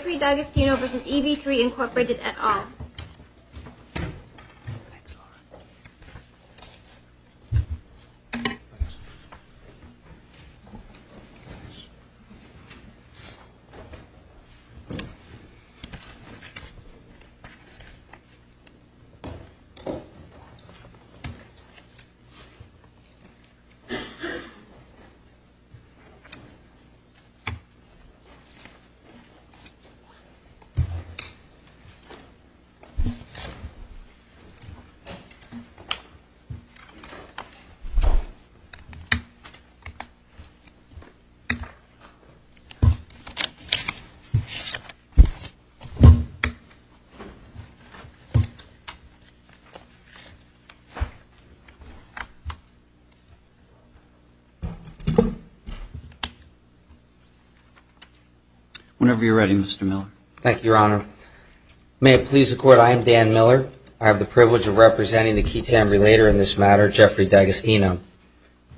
at all. Whenever you're ready, Mr. President. Thank you, Your Honor. May it please the Court, I am Dan Miller. I have the privilege of representing the key TAM relater in this matter, Jeffrey D'Agostino.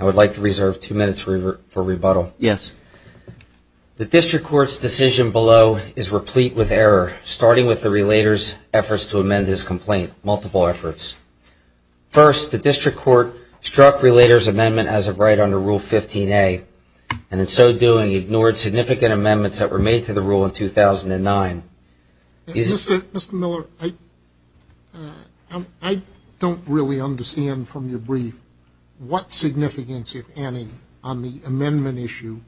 I would like to reserve two minutes for rebuttal. Yes. The District Court's decision below is replete with error, starting with the relater's efforts to amend his complaint. Multiple efforts. First, the District Court struck relater's amendment as a right under Rule 15a, and in so doing ignored significant amendments that were made to the rule in 2009. Mr. Miller, I don't really understand from your brief what significance, if any, on the amendment issue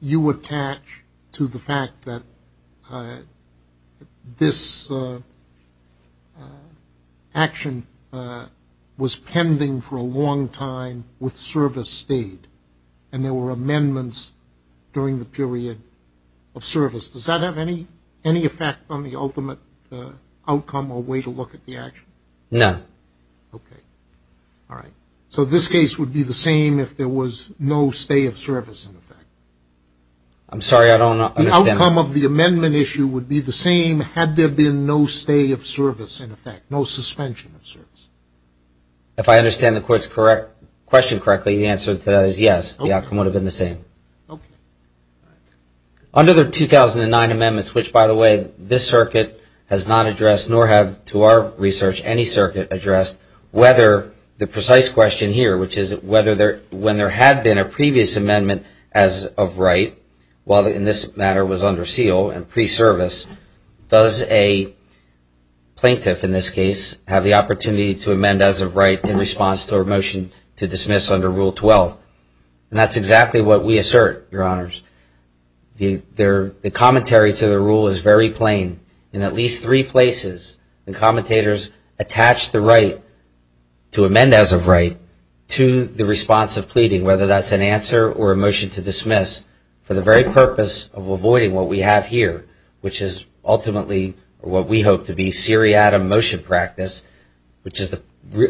you attach to the fact that this action was pending for a long time with service stayed and there were amendments during the period of service. Does that have any effect on the ultimate outcome or way to look at the action? No. Okay. All right. So this case would be the same if there was no stay of service in effect? I'm sorry, I don't understand. The outcome of the amendment issue would be the same had there been no stay of service in effect, no suspension of service. If I understand the Court's question correctly, the answer to that is yes, the outcome would have been the same. Okay. Under the 2009 amendments, which, by the way, this circuit has not addressed, nor have, to our research, any circuit addressed, whether the precise question here, which is whether when there had been a previous amendment as of right, while in this matter was under seal and pre-service, does a plaintiff in this case have the opportunity to amend as of right in response to a motion to dismiss under Rule 12? And that's exactly what we assert, Your Honors. The commentary to the rule is very plain. In at least three places, the commentators attach the right to amend as of right to the response of pleading, whether that's an answer or a motion to dismiss, for the very purpose of avoiding what we have here, which is ultimately what we hope to be seriatim motion practice, which is the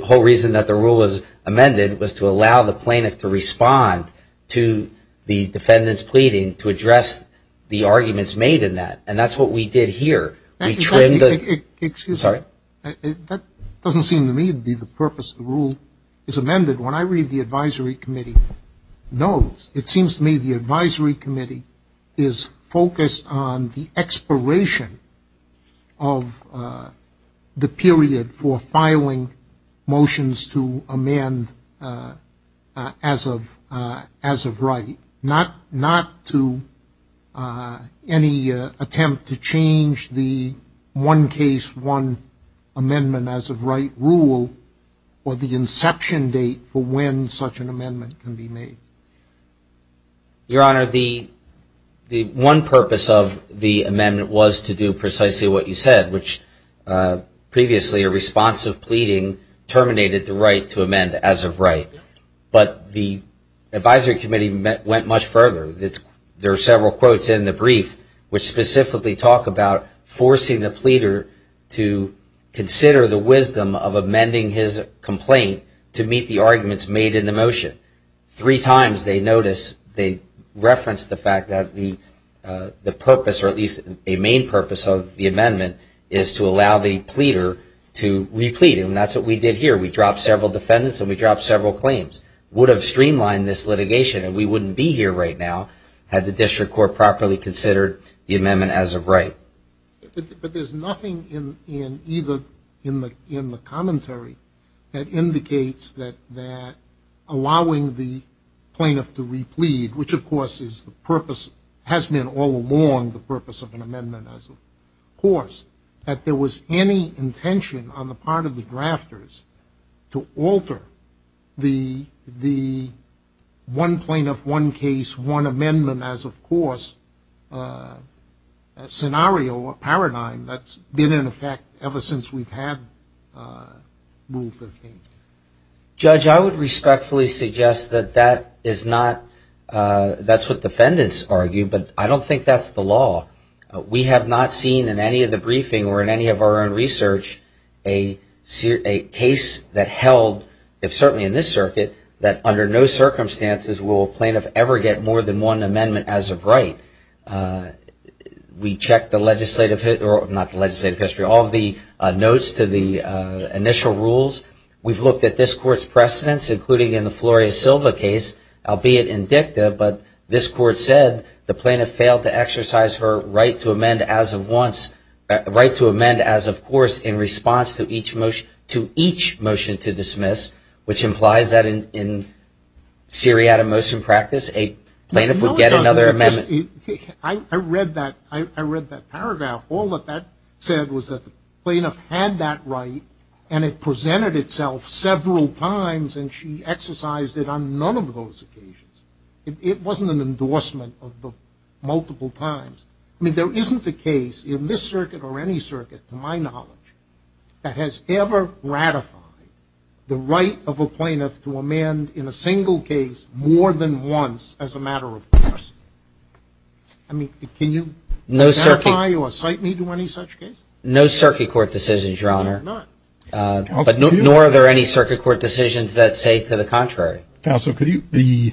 whole reason that the rule was amended was to allow the plaintiff to respond to the defendant's pleading to address the arguments made in that. And that's what we did here. We trimmed the – Excuse me. Sorry. That doesn't seem to me to be the purpose of the rule. It's amended. When I read the advisory committee notes, it seems to me the advisory committee is focused on the expiration of the period for filing motions to amend as of right, not to any attempt to change the one case, one amendment as of right rule or the inception date for when such an amendment can be made. Your Honor, the one purpose of the amendment was to do precisely what you said, which previously a response of pleading terminated the right to amend as of right. But the advisory committee went much further. There are several quotes in the brief which specifically talk about forcing the pleader to consider the wisdom of amending his complaint to meet the arguments made in the motion. Three times they notice they reference the fact that the purpose, or at least a main purpose of the amendment, is to allow the pleader to re-plead. And that's what we did here. We dropped several defendants, and we dropped several claims. Would have streamlined this litigation, and we wouldn't be here right now had the district court properly considered the amendment as of right. But there's nothing in either in the commentary that indicates that allowing the plaintiff to re-plead, which of course is the purpose, has been all along the purpose of an amendment as of course, that there was any intention on the part of the drafters to alter the one plaintiff, one case, one amendment as of course scenario or paradigm that's been in effect ever since we've had Rule 15. Judge, I would respectfully suggest that that is not, that's what defendants argue, but I don't think that's the law. We have not seen in any of the briefing or in any of our own research a case that held, if certainly in this circuit, that under no circumstances will a plaintiff ever get more than one amendment as of right. We checked the legislative, not the legislative history, all of the notes to the initial rules. We've looked at this court's precedents, including in the Floria Silva case, albeit in dicta, but this court said the plaintiff failed to exercise her right to amend as of course in response to each motion to dismiss, which implies that in seriatim motion practice a plaintiff would get another amendment. I read that paragraph. All that that said was that the plaintiff had that right and it presented itself several times and she exercised it on none of those occasions. It wasn't an endorsement of the multiple times. I mean, there isn't a case in this circuit or any circuit, to my knowledge, that has ever ratified the right of a plaintiff to amend in a single case more than once as a matter of course. I mean, can you ratify or cite me to any such case? No circuit court decisions, Your Honor. Nor are there any circuit court decisions that say to the contrary. Counsel, the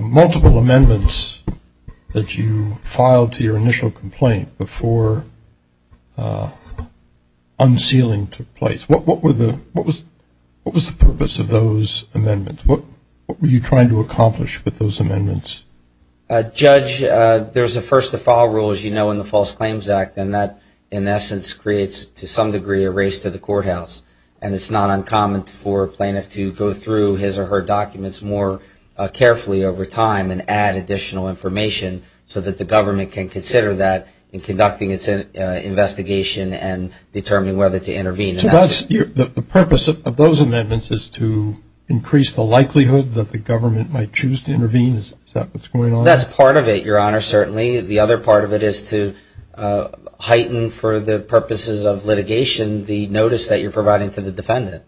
multiple amendments that you filed to your initial complaint before unsealing took place, what was the purpose of those amendments? What were you trying to accomplish with those amendments? Judge, there's a first to file rule, as you know, in the False Claims Act, and that in essence creates to some degree a race to the courthouse. And it's not uncommon for a plaintiff to go through his or her documents more carefully over time and add additional information so that the government can consider that in conducting its investigation and determining whether to intervene. So the purpose of those amendments is to increase the likelihood that the government might choose to intervene? Is that what's going on? That's part of it, Your Honor, certainly. The other part of it is to heighten for the purposes of litigation the notice that you're providing to the defendant.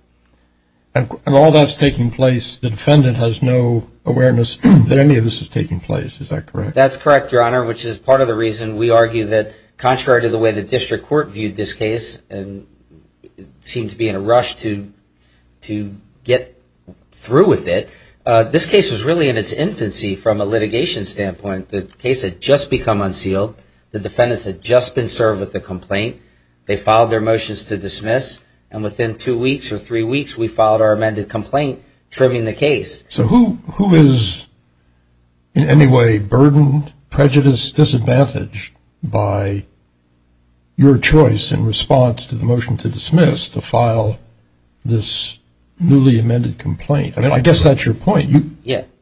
And all that's taking place, the defendant has no awareness that any of this is taking place. Is that correct? That's correct, Your Honor, which is part of the reason we argue that, we seem to be in a rush to get through with it. This case was really in its infancy from a litigation standpoint. The case had just become unsealed. The defendants had just been served with the complaint. They filed their motions to dismiss, and within two weeks or three weeks, we filed our amended complaint, trimming the case. So who is in any way burdened, prejudiced, disadvantaged by your choice in response to the motion to dismiss, to file this newly amended complaint? I guess that's your point.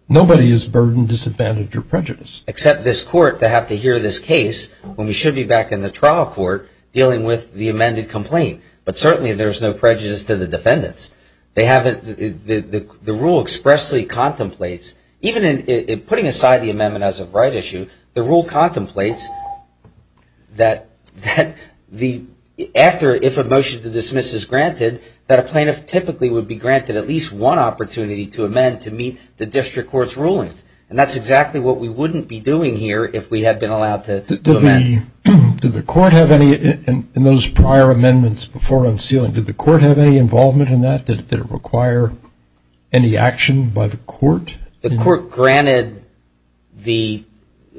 Nobody is burdened, disadvantaged, or prejudiced. Except this court to have to hear this case when we should be back in the trial court dealing with the amended complaint. But certainly there's no prejudice to the defendants. The rule expressly contemplates, even in putting aside the amendment as a right issue, the rule contemplates that if a motion to dismiss is granted, that a plaintiff typically would be granted at least one opportunity to amend to meet the district court's rulings. And that's exactly what we wouldn't be doing here if we had been allowed to amend. Did the court have any, in those prior amendments before unsealing, did the court have any involvement in that? Did it require any action by the court? The court granted the,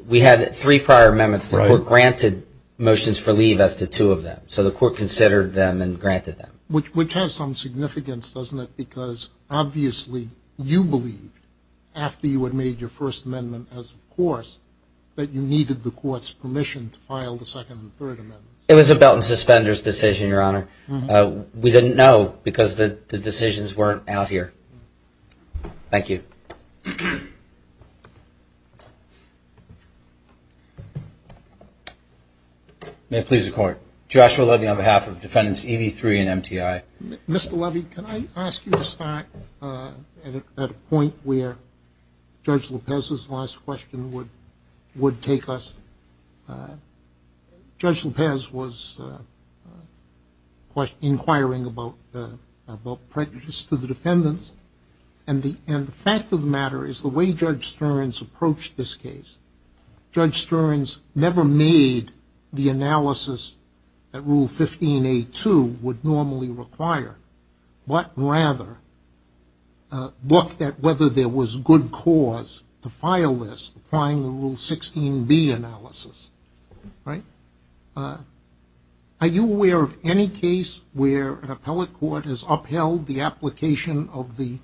we had three prior amendments. The court granted motions for leave as to two of them. So the court considered them and granted them. Which has some significance, doesn't it? Because obviously you believed, after you had made your first amendment as of course, that you needed the court's permission to file the second and third amendments. It was a belt and suspenders decision, Your Honor. We didn't know because the decisions weren't out here. Thank you. May it please the court. Joshua Levy on behalf of defendants EV3 and MTI. Mr. Levy, can I ask you to start at a point where Judge Lopez's last question would take us? Judge Lopez was inquiring about prejudice to the defendants. And the fact of the matter is the way Judge Stearns approached this case, Judge Stearns never made the analysis that Rule 15A2 would normally require, but rather looked at whether there was good cause to file this, applying the Rule 16B analysis, right? Are you aware of any case where an appellate court has upheld the application of the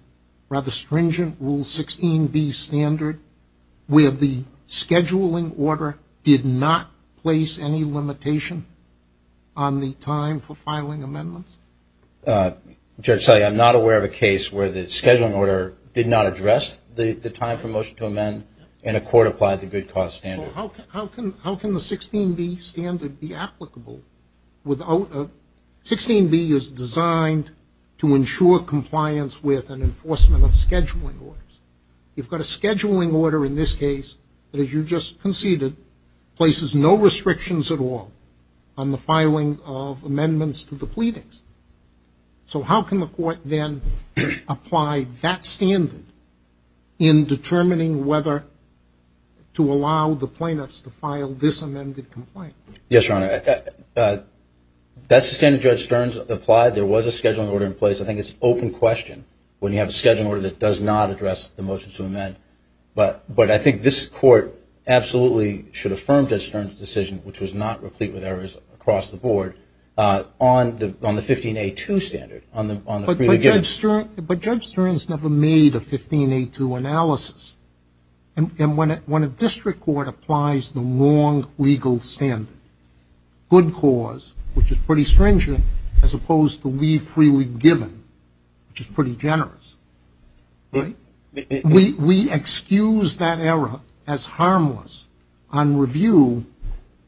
rather stringent Rule 16B standard where the scheduling order did not place any limitation on the time for filing amendments? Judge, I'm not aware of a case where the scheduling order did not address the time for motion to amend and a court applied the good cause standard. How can the 16B standard be applicable without a 16B is designed to ensure compliance with and enforcement of scheduling orders. You've got a scheduling order in this case that, as you just conceded, places no restrictions at all on the filing of amendments to the pleadings. So how can the court then apply that standard in determining whether to allow the plaintiffs to file this amended complaint? Yes, Your Honor. That standard Judge Stearns applied. There was a scheduling order in place. I think it's an open question when you have a scheduling order that does not address the motion to amend. But I think this Court absolutely should affirm Judge Stearns' decision, which was not replete with errors across the board, on the 15A2 standard, on the freely given. But Judge Stearns never made a 15A2 analysis. And when a district court applies the wrong legal standard, good cause, which is pretty stringent, as opposed to we freely given, which is pretty generous, we excuse that error as harmless on review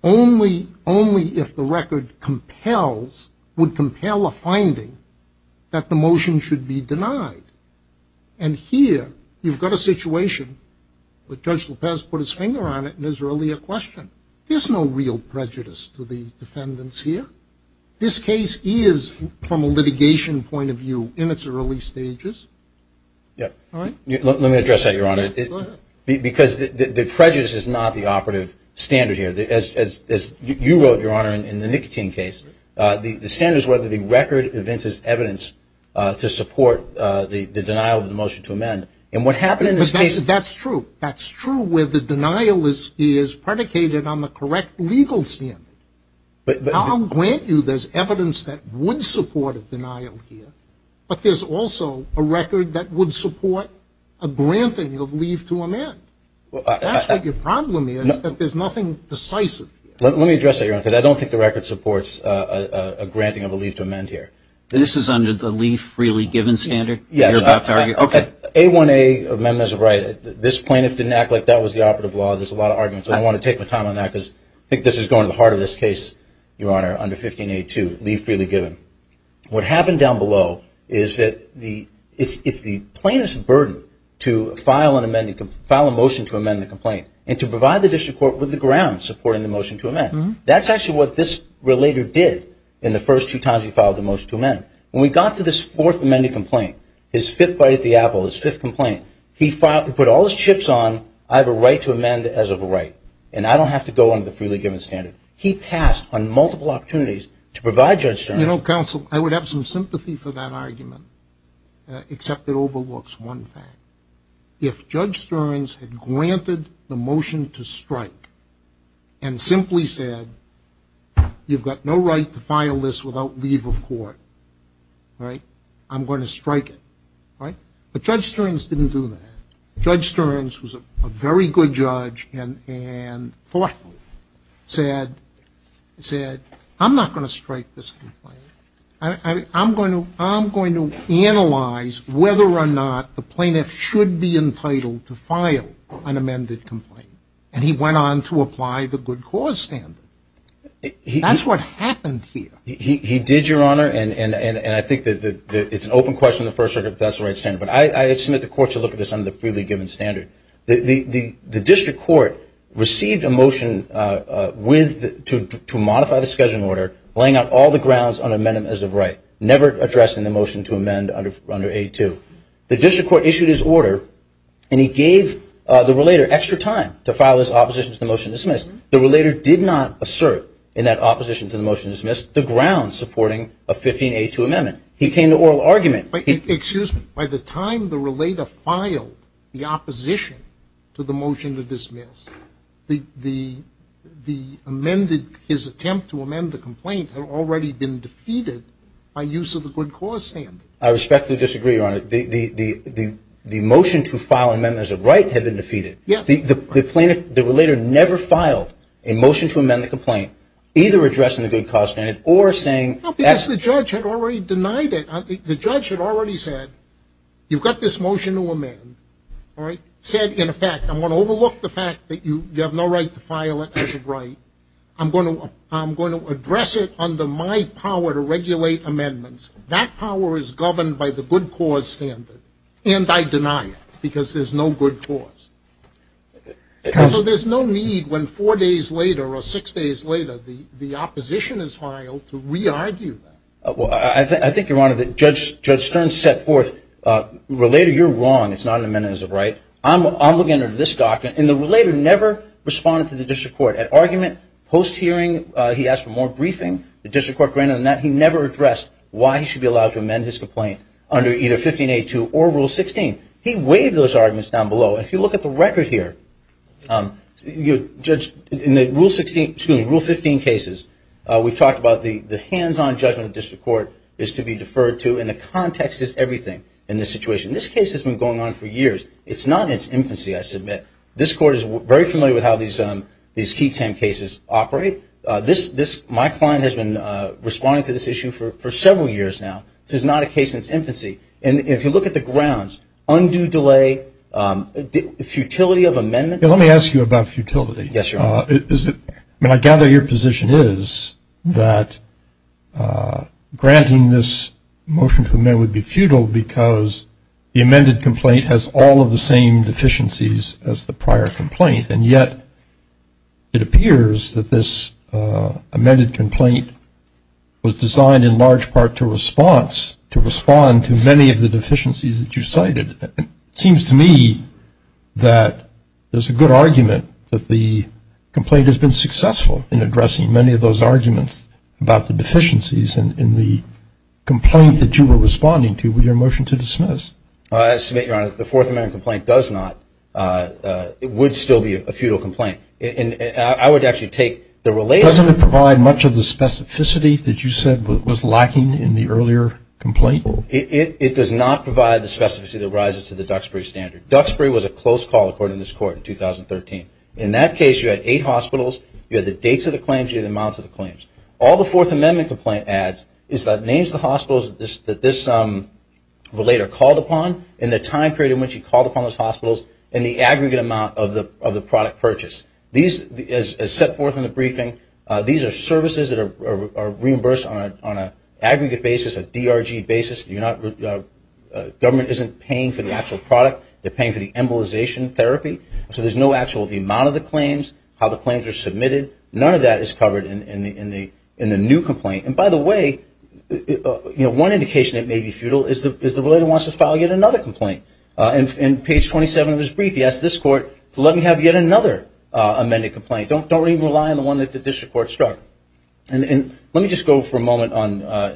only if the record compels, would compel a finding that the motion should be denied. And here you've got a situation where Judge Lopez put his finger on it in his earlier question. There's no real prejudice to the defendants here. This case is, from a litigation point of view, in its early stages. Let me address that, Your Honor. Because the prejudice is not the operative standard here. As you wrote, Your Honor, in the nicotine case, the standard is whether the record evinces evidence to support the denial of the motion to amend. That's true. That's true where the denial is predicated on the correct legal standard. I'll grant you there's evidence that would support a denial here, but there's also a record that would support a granting of leave to amend. That's what your problem is, that there's nothing decisive. Let me address that, Your Honor, because I don't think the record supports a granting of a leave to amend here. This is under the leave freely given standard? Yes. A1A amendment is right. This plaintiff didn't act like that was the operative law. There's a lot of arguments. I don't want to take my time on that because I think this is going to the heart of this case, Your Honor, under 15A2, leave freely given. What happened down below is that it's the plaintiff's burden to file a motion to amend the complaint and to provide the district court with the grounds supporting the motion to amend. That's actually what this relator did in the first two times he filed the motion to amend. When we got to this fourth amended complaint, his fifth bite at the apple, his fifth complaint, he put all his chips on, I have a right to amend as of right, and I don't have to go under the freely given standard. He passed on multiple opportunities to provide Judge Stearns. You know, counsel, I would have some sympathy for that argument, except it overlooks one thing. If Judge Stearns had granted the motion to strike and simply said, you've got no right to file this without leave of court, right, I'm going to strike it, right? But Judge Stearns didn't do that. Judge Stearns was a very good judge and thoughtful, said, I'm not going to strike this complaint. I'm going to analyze whether or not the plaintiff should be entitled to file an amended complaint. And he went on to apply the good cause standard. That's what happened here. He did, Your Honor, and I think that it's an open question in the First Circuit if that's the right standard. But I submit the court to look at this under the freely given standard. The district court received a motion to modify the scheduling order, laying out all the grounds on amendment as of right, never addressing the motion to amend under A2. The district court issued his order and he gave the relator extra time to file his opposition to the motion to dismiss. The relator did not assert in that opposition to the motion to dismiss the grounds supporting a 15A2 amendment. He came to oral argument. Excuse me. By the time the relator filed the opposition to the motion to dismiss, the amended, his attempt to amend the complaint had already been defeated by use of the good cause standard. I respectfully disagree, Your Honor. The motion to file an amendment as of right had been defeated. The plaintiff, the relator, never filed a motion to amend the complaint, either addressing the good cause standard or saying No, because the judge had already denied it. The judge had already said, you've got this motion to amend, all right, said, in effect, I'm going to overlook the fact that you have no right to file it as of right. I'm going to address it under my power to regulate amendments. That power is governed by the good cause standard, and I deny it because there's no good cause. So there's no need when four days later or six days later the opposition is filed to re-argue that. Well, I think, Your Honor, that Judge Stern set forth, Relator, you're wrong. It's not an amendment as of right. I'm looking at this document, and the relator never responded to the district court. At argument, post-hearing, he asked for more briefing. The district court granted him that. He never addressed why he should be allowed to amend his complaint under either 15-A-2 or Rule 16. He waived those arguments down below. If you look at the record here, in Rule 15 cases, we've talked about the hands-on judgment the district court is to be deferred to, and the context is everything in this situation. This case has been going on for years. It's not in its infancy, I submit. This court is very familiar with how these key 10 cases operate. My client has been responding to this issue for several years now. This is not a case in its infancy. And if you look at the grounds, undue delay, futility of amendment. Let me ask you about futility. Yes, Your Honor. I gather your position is that granting this motion to amend would be futile because the amended complaint has all of the same deficiencies as the prior complaint, and yet it appears that this amended complaint was designed in large part to response, to respond to many of the deficiencies that you cited. It seems to me that there's a good argument that the complaint has been successful in addressing many of those arguments about the deficiencies in the complaint that you were responding to with your motion to dismiss. I submit, Your Honor, that the fourth amendment complaint does not. It would still be a futile complaint. I would actually take the related. Doesn't it provide much of the specificity that you said was lacking in the earlier complaint? It does not provide the specificity that rises to the Duxbury standard. Duxbury was a close call according to this court in 2013. In that case, you had eight hospitals. You had the dates of the claims. You had the amounts of the claims. All the fourth amendment complaint adds is that names of the hospitals that this relator called upon and the time period in which he called upon those hospitals and the aggregate amount of the product purchase. As set forth in the briefing, these are services that are reimbursed on an aggregate basis, a DRG basis. Government isn't paying for the actual product. They're paying for the embolization therapy. So there's no actual amount of the claims, how the claims are submitted. None of that is covered in the new complaint. By the way, one indication it may be futile is the relator wants to file yet another complaint. In page 27 of his brief, he asks this court to let him have yet another amended complaint. Don't even rely on the one that the district court struck. Let me just go for a moment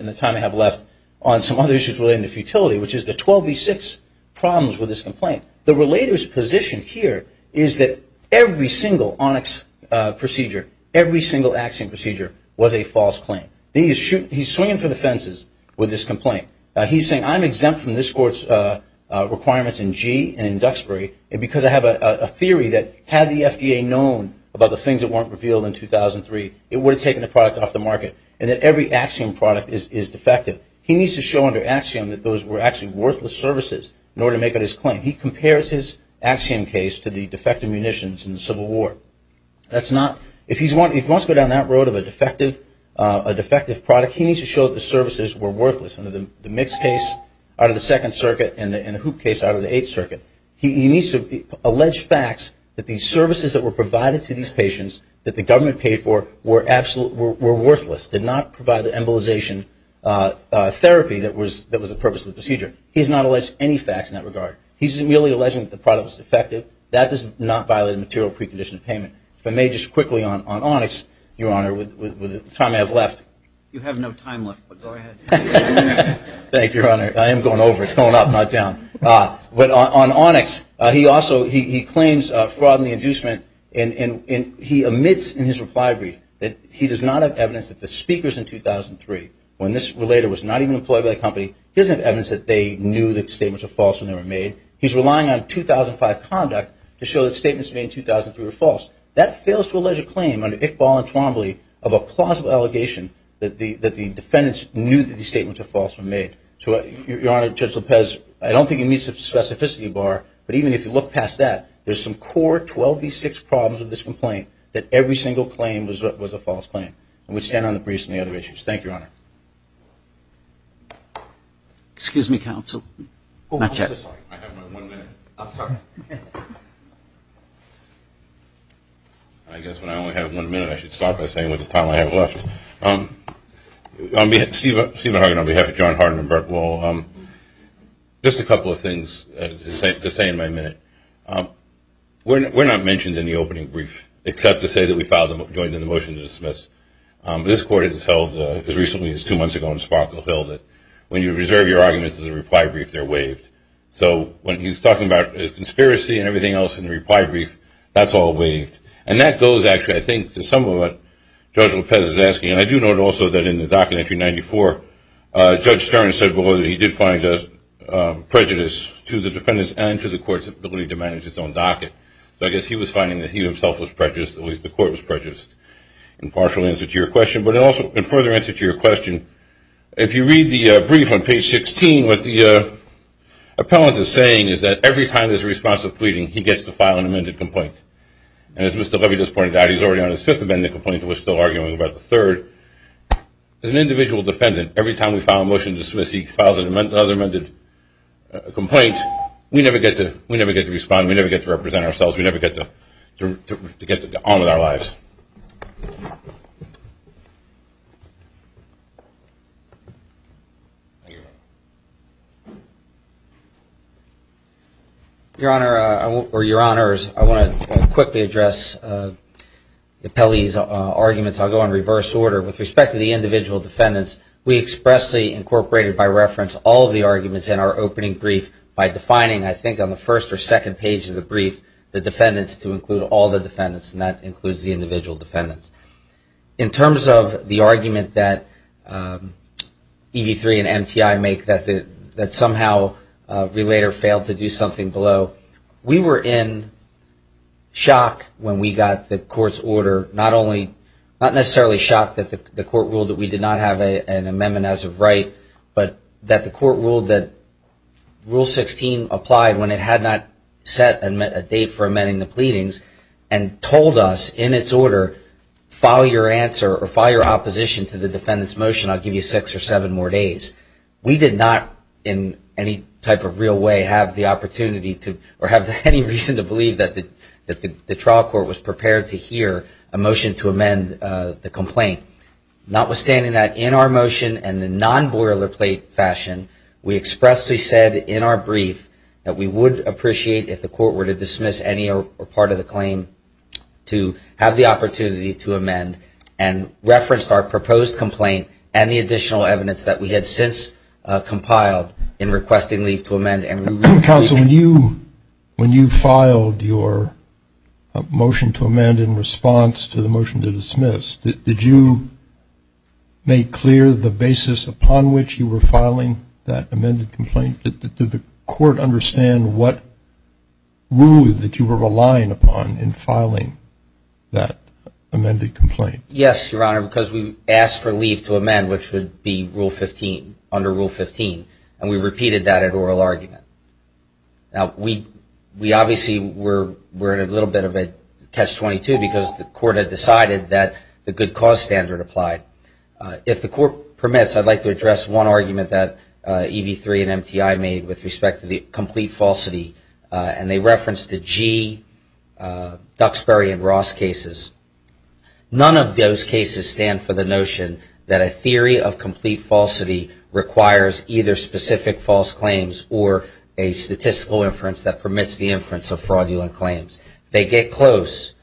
in the time I have left on some other issues relating to futility, which is the 12B6 problems with this complaint. The relator's position here is that every single ONIX procedure, every single Axiom procedure was a false claim. He's swinging for the fences with this complaint. He's saying I'm exempt from this court's requirements in G and in Duxbury because I have a theory that had the FDA known about the things that weren't revealed in 2003, it would have taken the product off the market and that every Axiom product is defective. He needs to show under Axiom that those were actually worthless services in order to make up his claim. He compares his Axiom case to the defective munitions in the Civil War. If he wants to go down that road of a defective product, he needs to show that the services were worthless under the Mix case out of the Second Circuit and the Hoop case out of the Eighth Circuit. He needs to allege facts that the services that were provided to these patients that the government paid for were worthless, did not provide the embolization therapy that was the purpose of the procedure. He has not alleged any facts in that regard. He's merely alleging that the product was defective. That does not violate a material precondition of payment. If I may just quickly on Onyx, Your Honor, with the time I have left. You have no time left, but go ahead. Thank you, Your Honor. I am going over. It's going up, not down. But on Onyx, he also claims fraud in the inducement and he omits in his reply brief that he does not have evidence that the speakers in 2003, when this relator was not even employed by the company, he doesn't have evidence that they knew that the statements were false when they were made. He's relying on 2005 conduct to show that statements made in 2003 were false. That fails to allege a claim under Iqbal and Twombly of a plausible allegation that the defendants knew that the statements were false when made. So, Your Honor, Judge Lopez, I don't think he meets the specificity bar, but even if you look past that, there's some core 12B6 problems with this complaint that every single claim was a false claim. And we stand on the briefs and the other issues. Thank you, Your Honor. Excuse me, counsel. I have one minute. I'm sorry. I guess when I only have one minute, I should start by saying with the time I have left. On behalf of Stephen Hagen, on behalf of John Harden and Burke, well, just a couple of things to say in my minute. We're not mentioned in the opening brief except to say that we filed and joined in the motion to dismiss. This court has held, as recently as two months ago in Sparkle Hill, that when you reserve your arguments as a reply brief, they're waived. So when he's talking about conspiracy and everything else in the reply brief, that's all waived. And that goes, actually, I think, to some of what Judge Lopez is asking. And I do note also that in the docket entry 94, Judge Stern said below that he did find prejudice to the defendants and to the court's ability to manage its own docket. So I guess he was finding that he himself was prejudiced, at least the court was prejudiced, in partial answer to your question. But also, in further answer to your question, if you read the brief on page 16, what the appellant is saying is that every time there's a response of pleading, he gets to file an amended complaint. And as Mr. Levy just pointed out, he's already on his fifth amended complaint. He was still arguing about the third. As an individual defendant, every time we file a motion to dismiss, he files another amended complaint. We never get to respond. We never get to represent ourselves. We never get to get on with our lives. Your Honor, or Your Honors, I want to quickly address the appellee's arguments. I'll go in reverse order. With respect to the individual defendants, we expressly incorporated by reference all of the arguments in our opening brief by defining, I think, on the first or second page of the brief, the defendants to include all the defendants, and that includes the individual defendants. In terms of the argument that EV3 and MTI make that somehow Relator failed to do something below, we were in shock when we got the court's order, not necessarily shocked that the court ruled that we did not have an amendment as of right, but that the court ruled that Rule 16 applied when it had not set a date for amending the pleadings, and told us in its order, file your answer or file your opposition to the defendant's motion. I'll give you six or seven more days. We did not, in any type of real way, have the opportunity to, or have any reason to believe that the trial court was prepared to hear a motion to amend the complaint. Notwithstanding that, in our motion and in non-boilerplate fashion, we expressly said in our brief that we would appreciate if the court were to dismiss any or part of the claim to have the opportunity to amend, and referenced our proposed complaint and the additional evidence that we had since compiled in requesting leave to amend. Counsel, when you filed your motion to amend in response to the motion to dismiss, did you make clear the basis upon which you were filing that amended complaint? Did the court understand what rules that you were relying upon in filing that amended complaint? Yes, Your Honor, because we asked for leave to amend, which would be Rule 15, under Rule 15, and we repeated that at oral argument. Now, we obviously were in a little bit of a catch-22 because the court had decided that the good cause standard applied. If the court permits, I'd like to address one argument that EB3 and MTI made with respect to the complete falsity, and they referenced the Gee, Duxbury, and Ross cases. None of those cases stand for the notion that a theory of complete falsity requires either specific false claims or a statistical inference that permits the inference of fraudulent claims. They get close,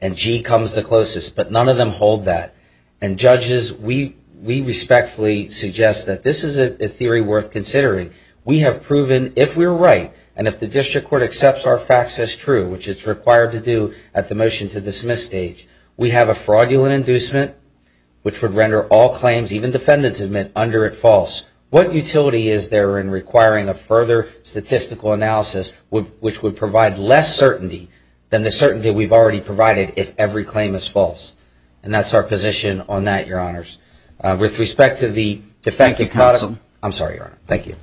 and Gee comes the closest, but none of them hold that. And, judges, we respectfully suggest that this is a theory worth considering. We have proven, if we're right, and if the district court accepts our facts as true, which it's required to do at the motion to dismiss stage, we have a fraudulent inducement which would render all claims, even defendants admit, under it false. What utility is there in requiring a further statistical analysis which would provide less certainty than the certainty we've already provided if every claim is false? And that's our position on that, Your Honors. With respect to the defendant- Thank you, Counsel. I'm sorry, Your Honor. Thank you.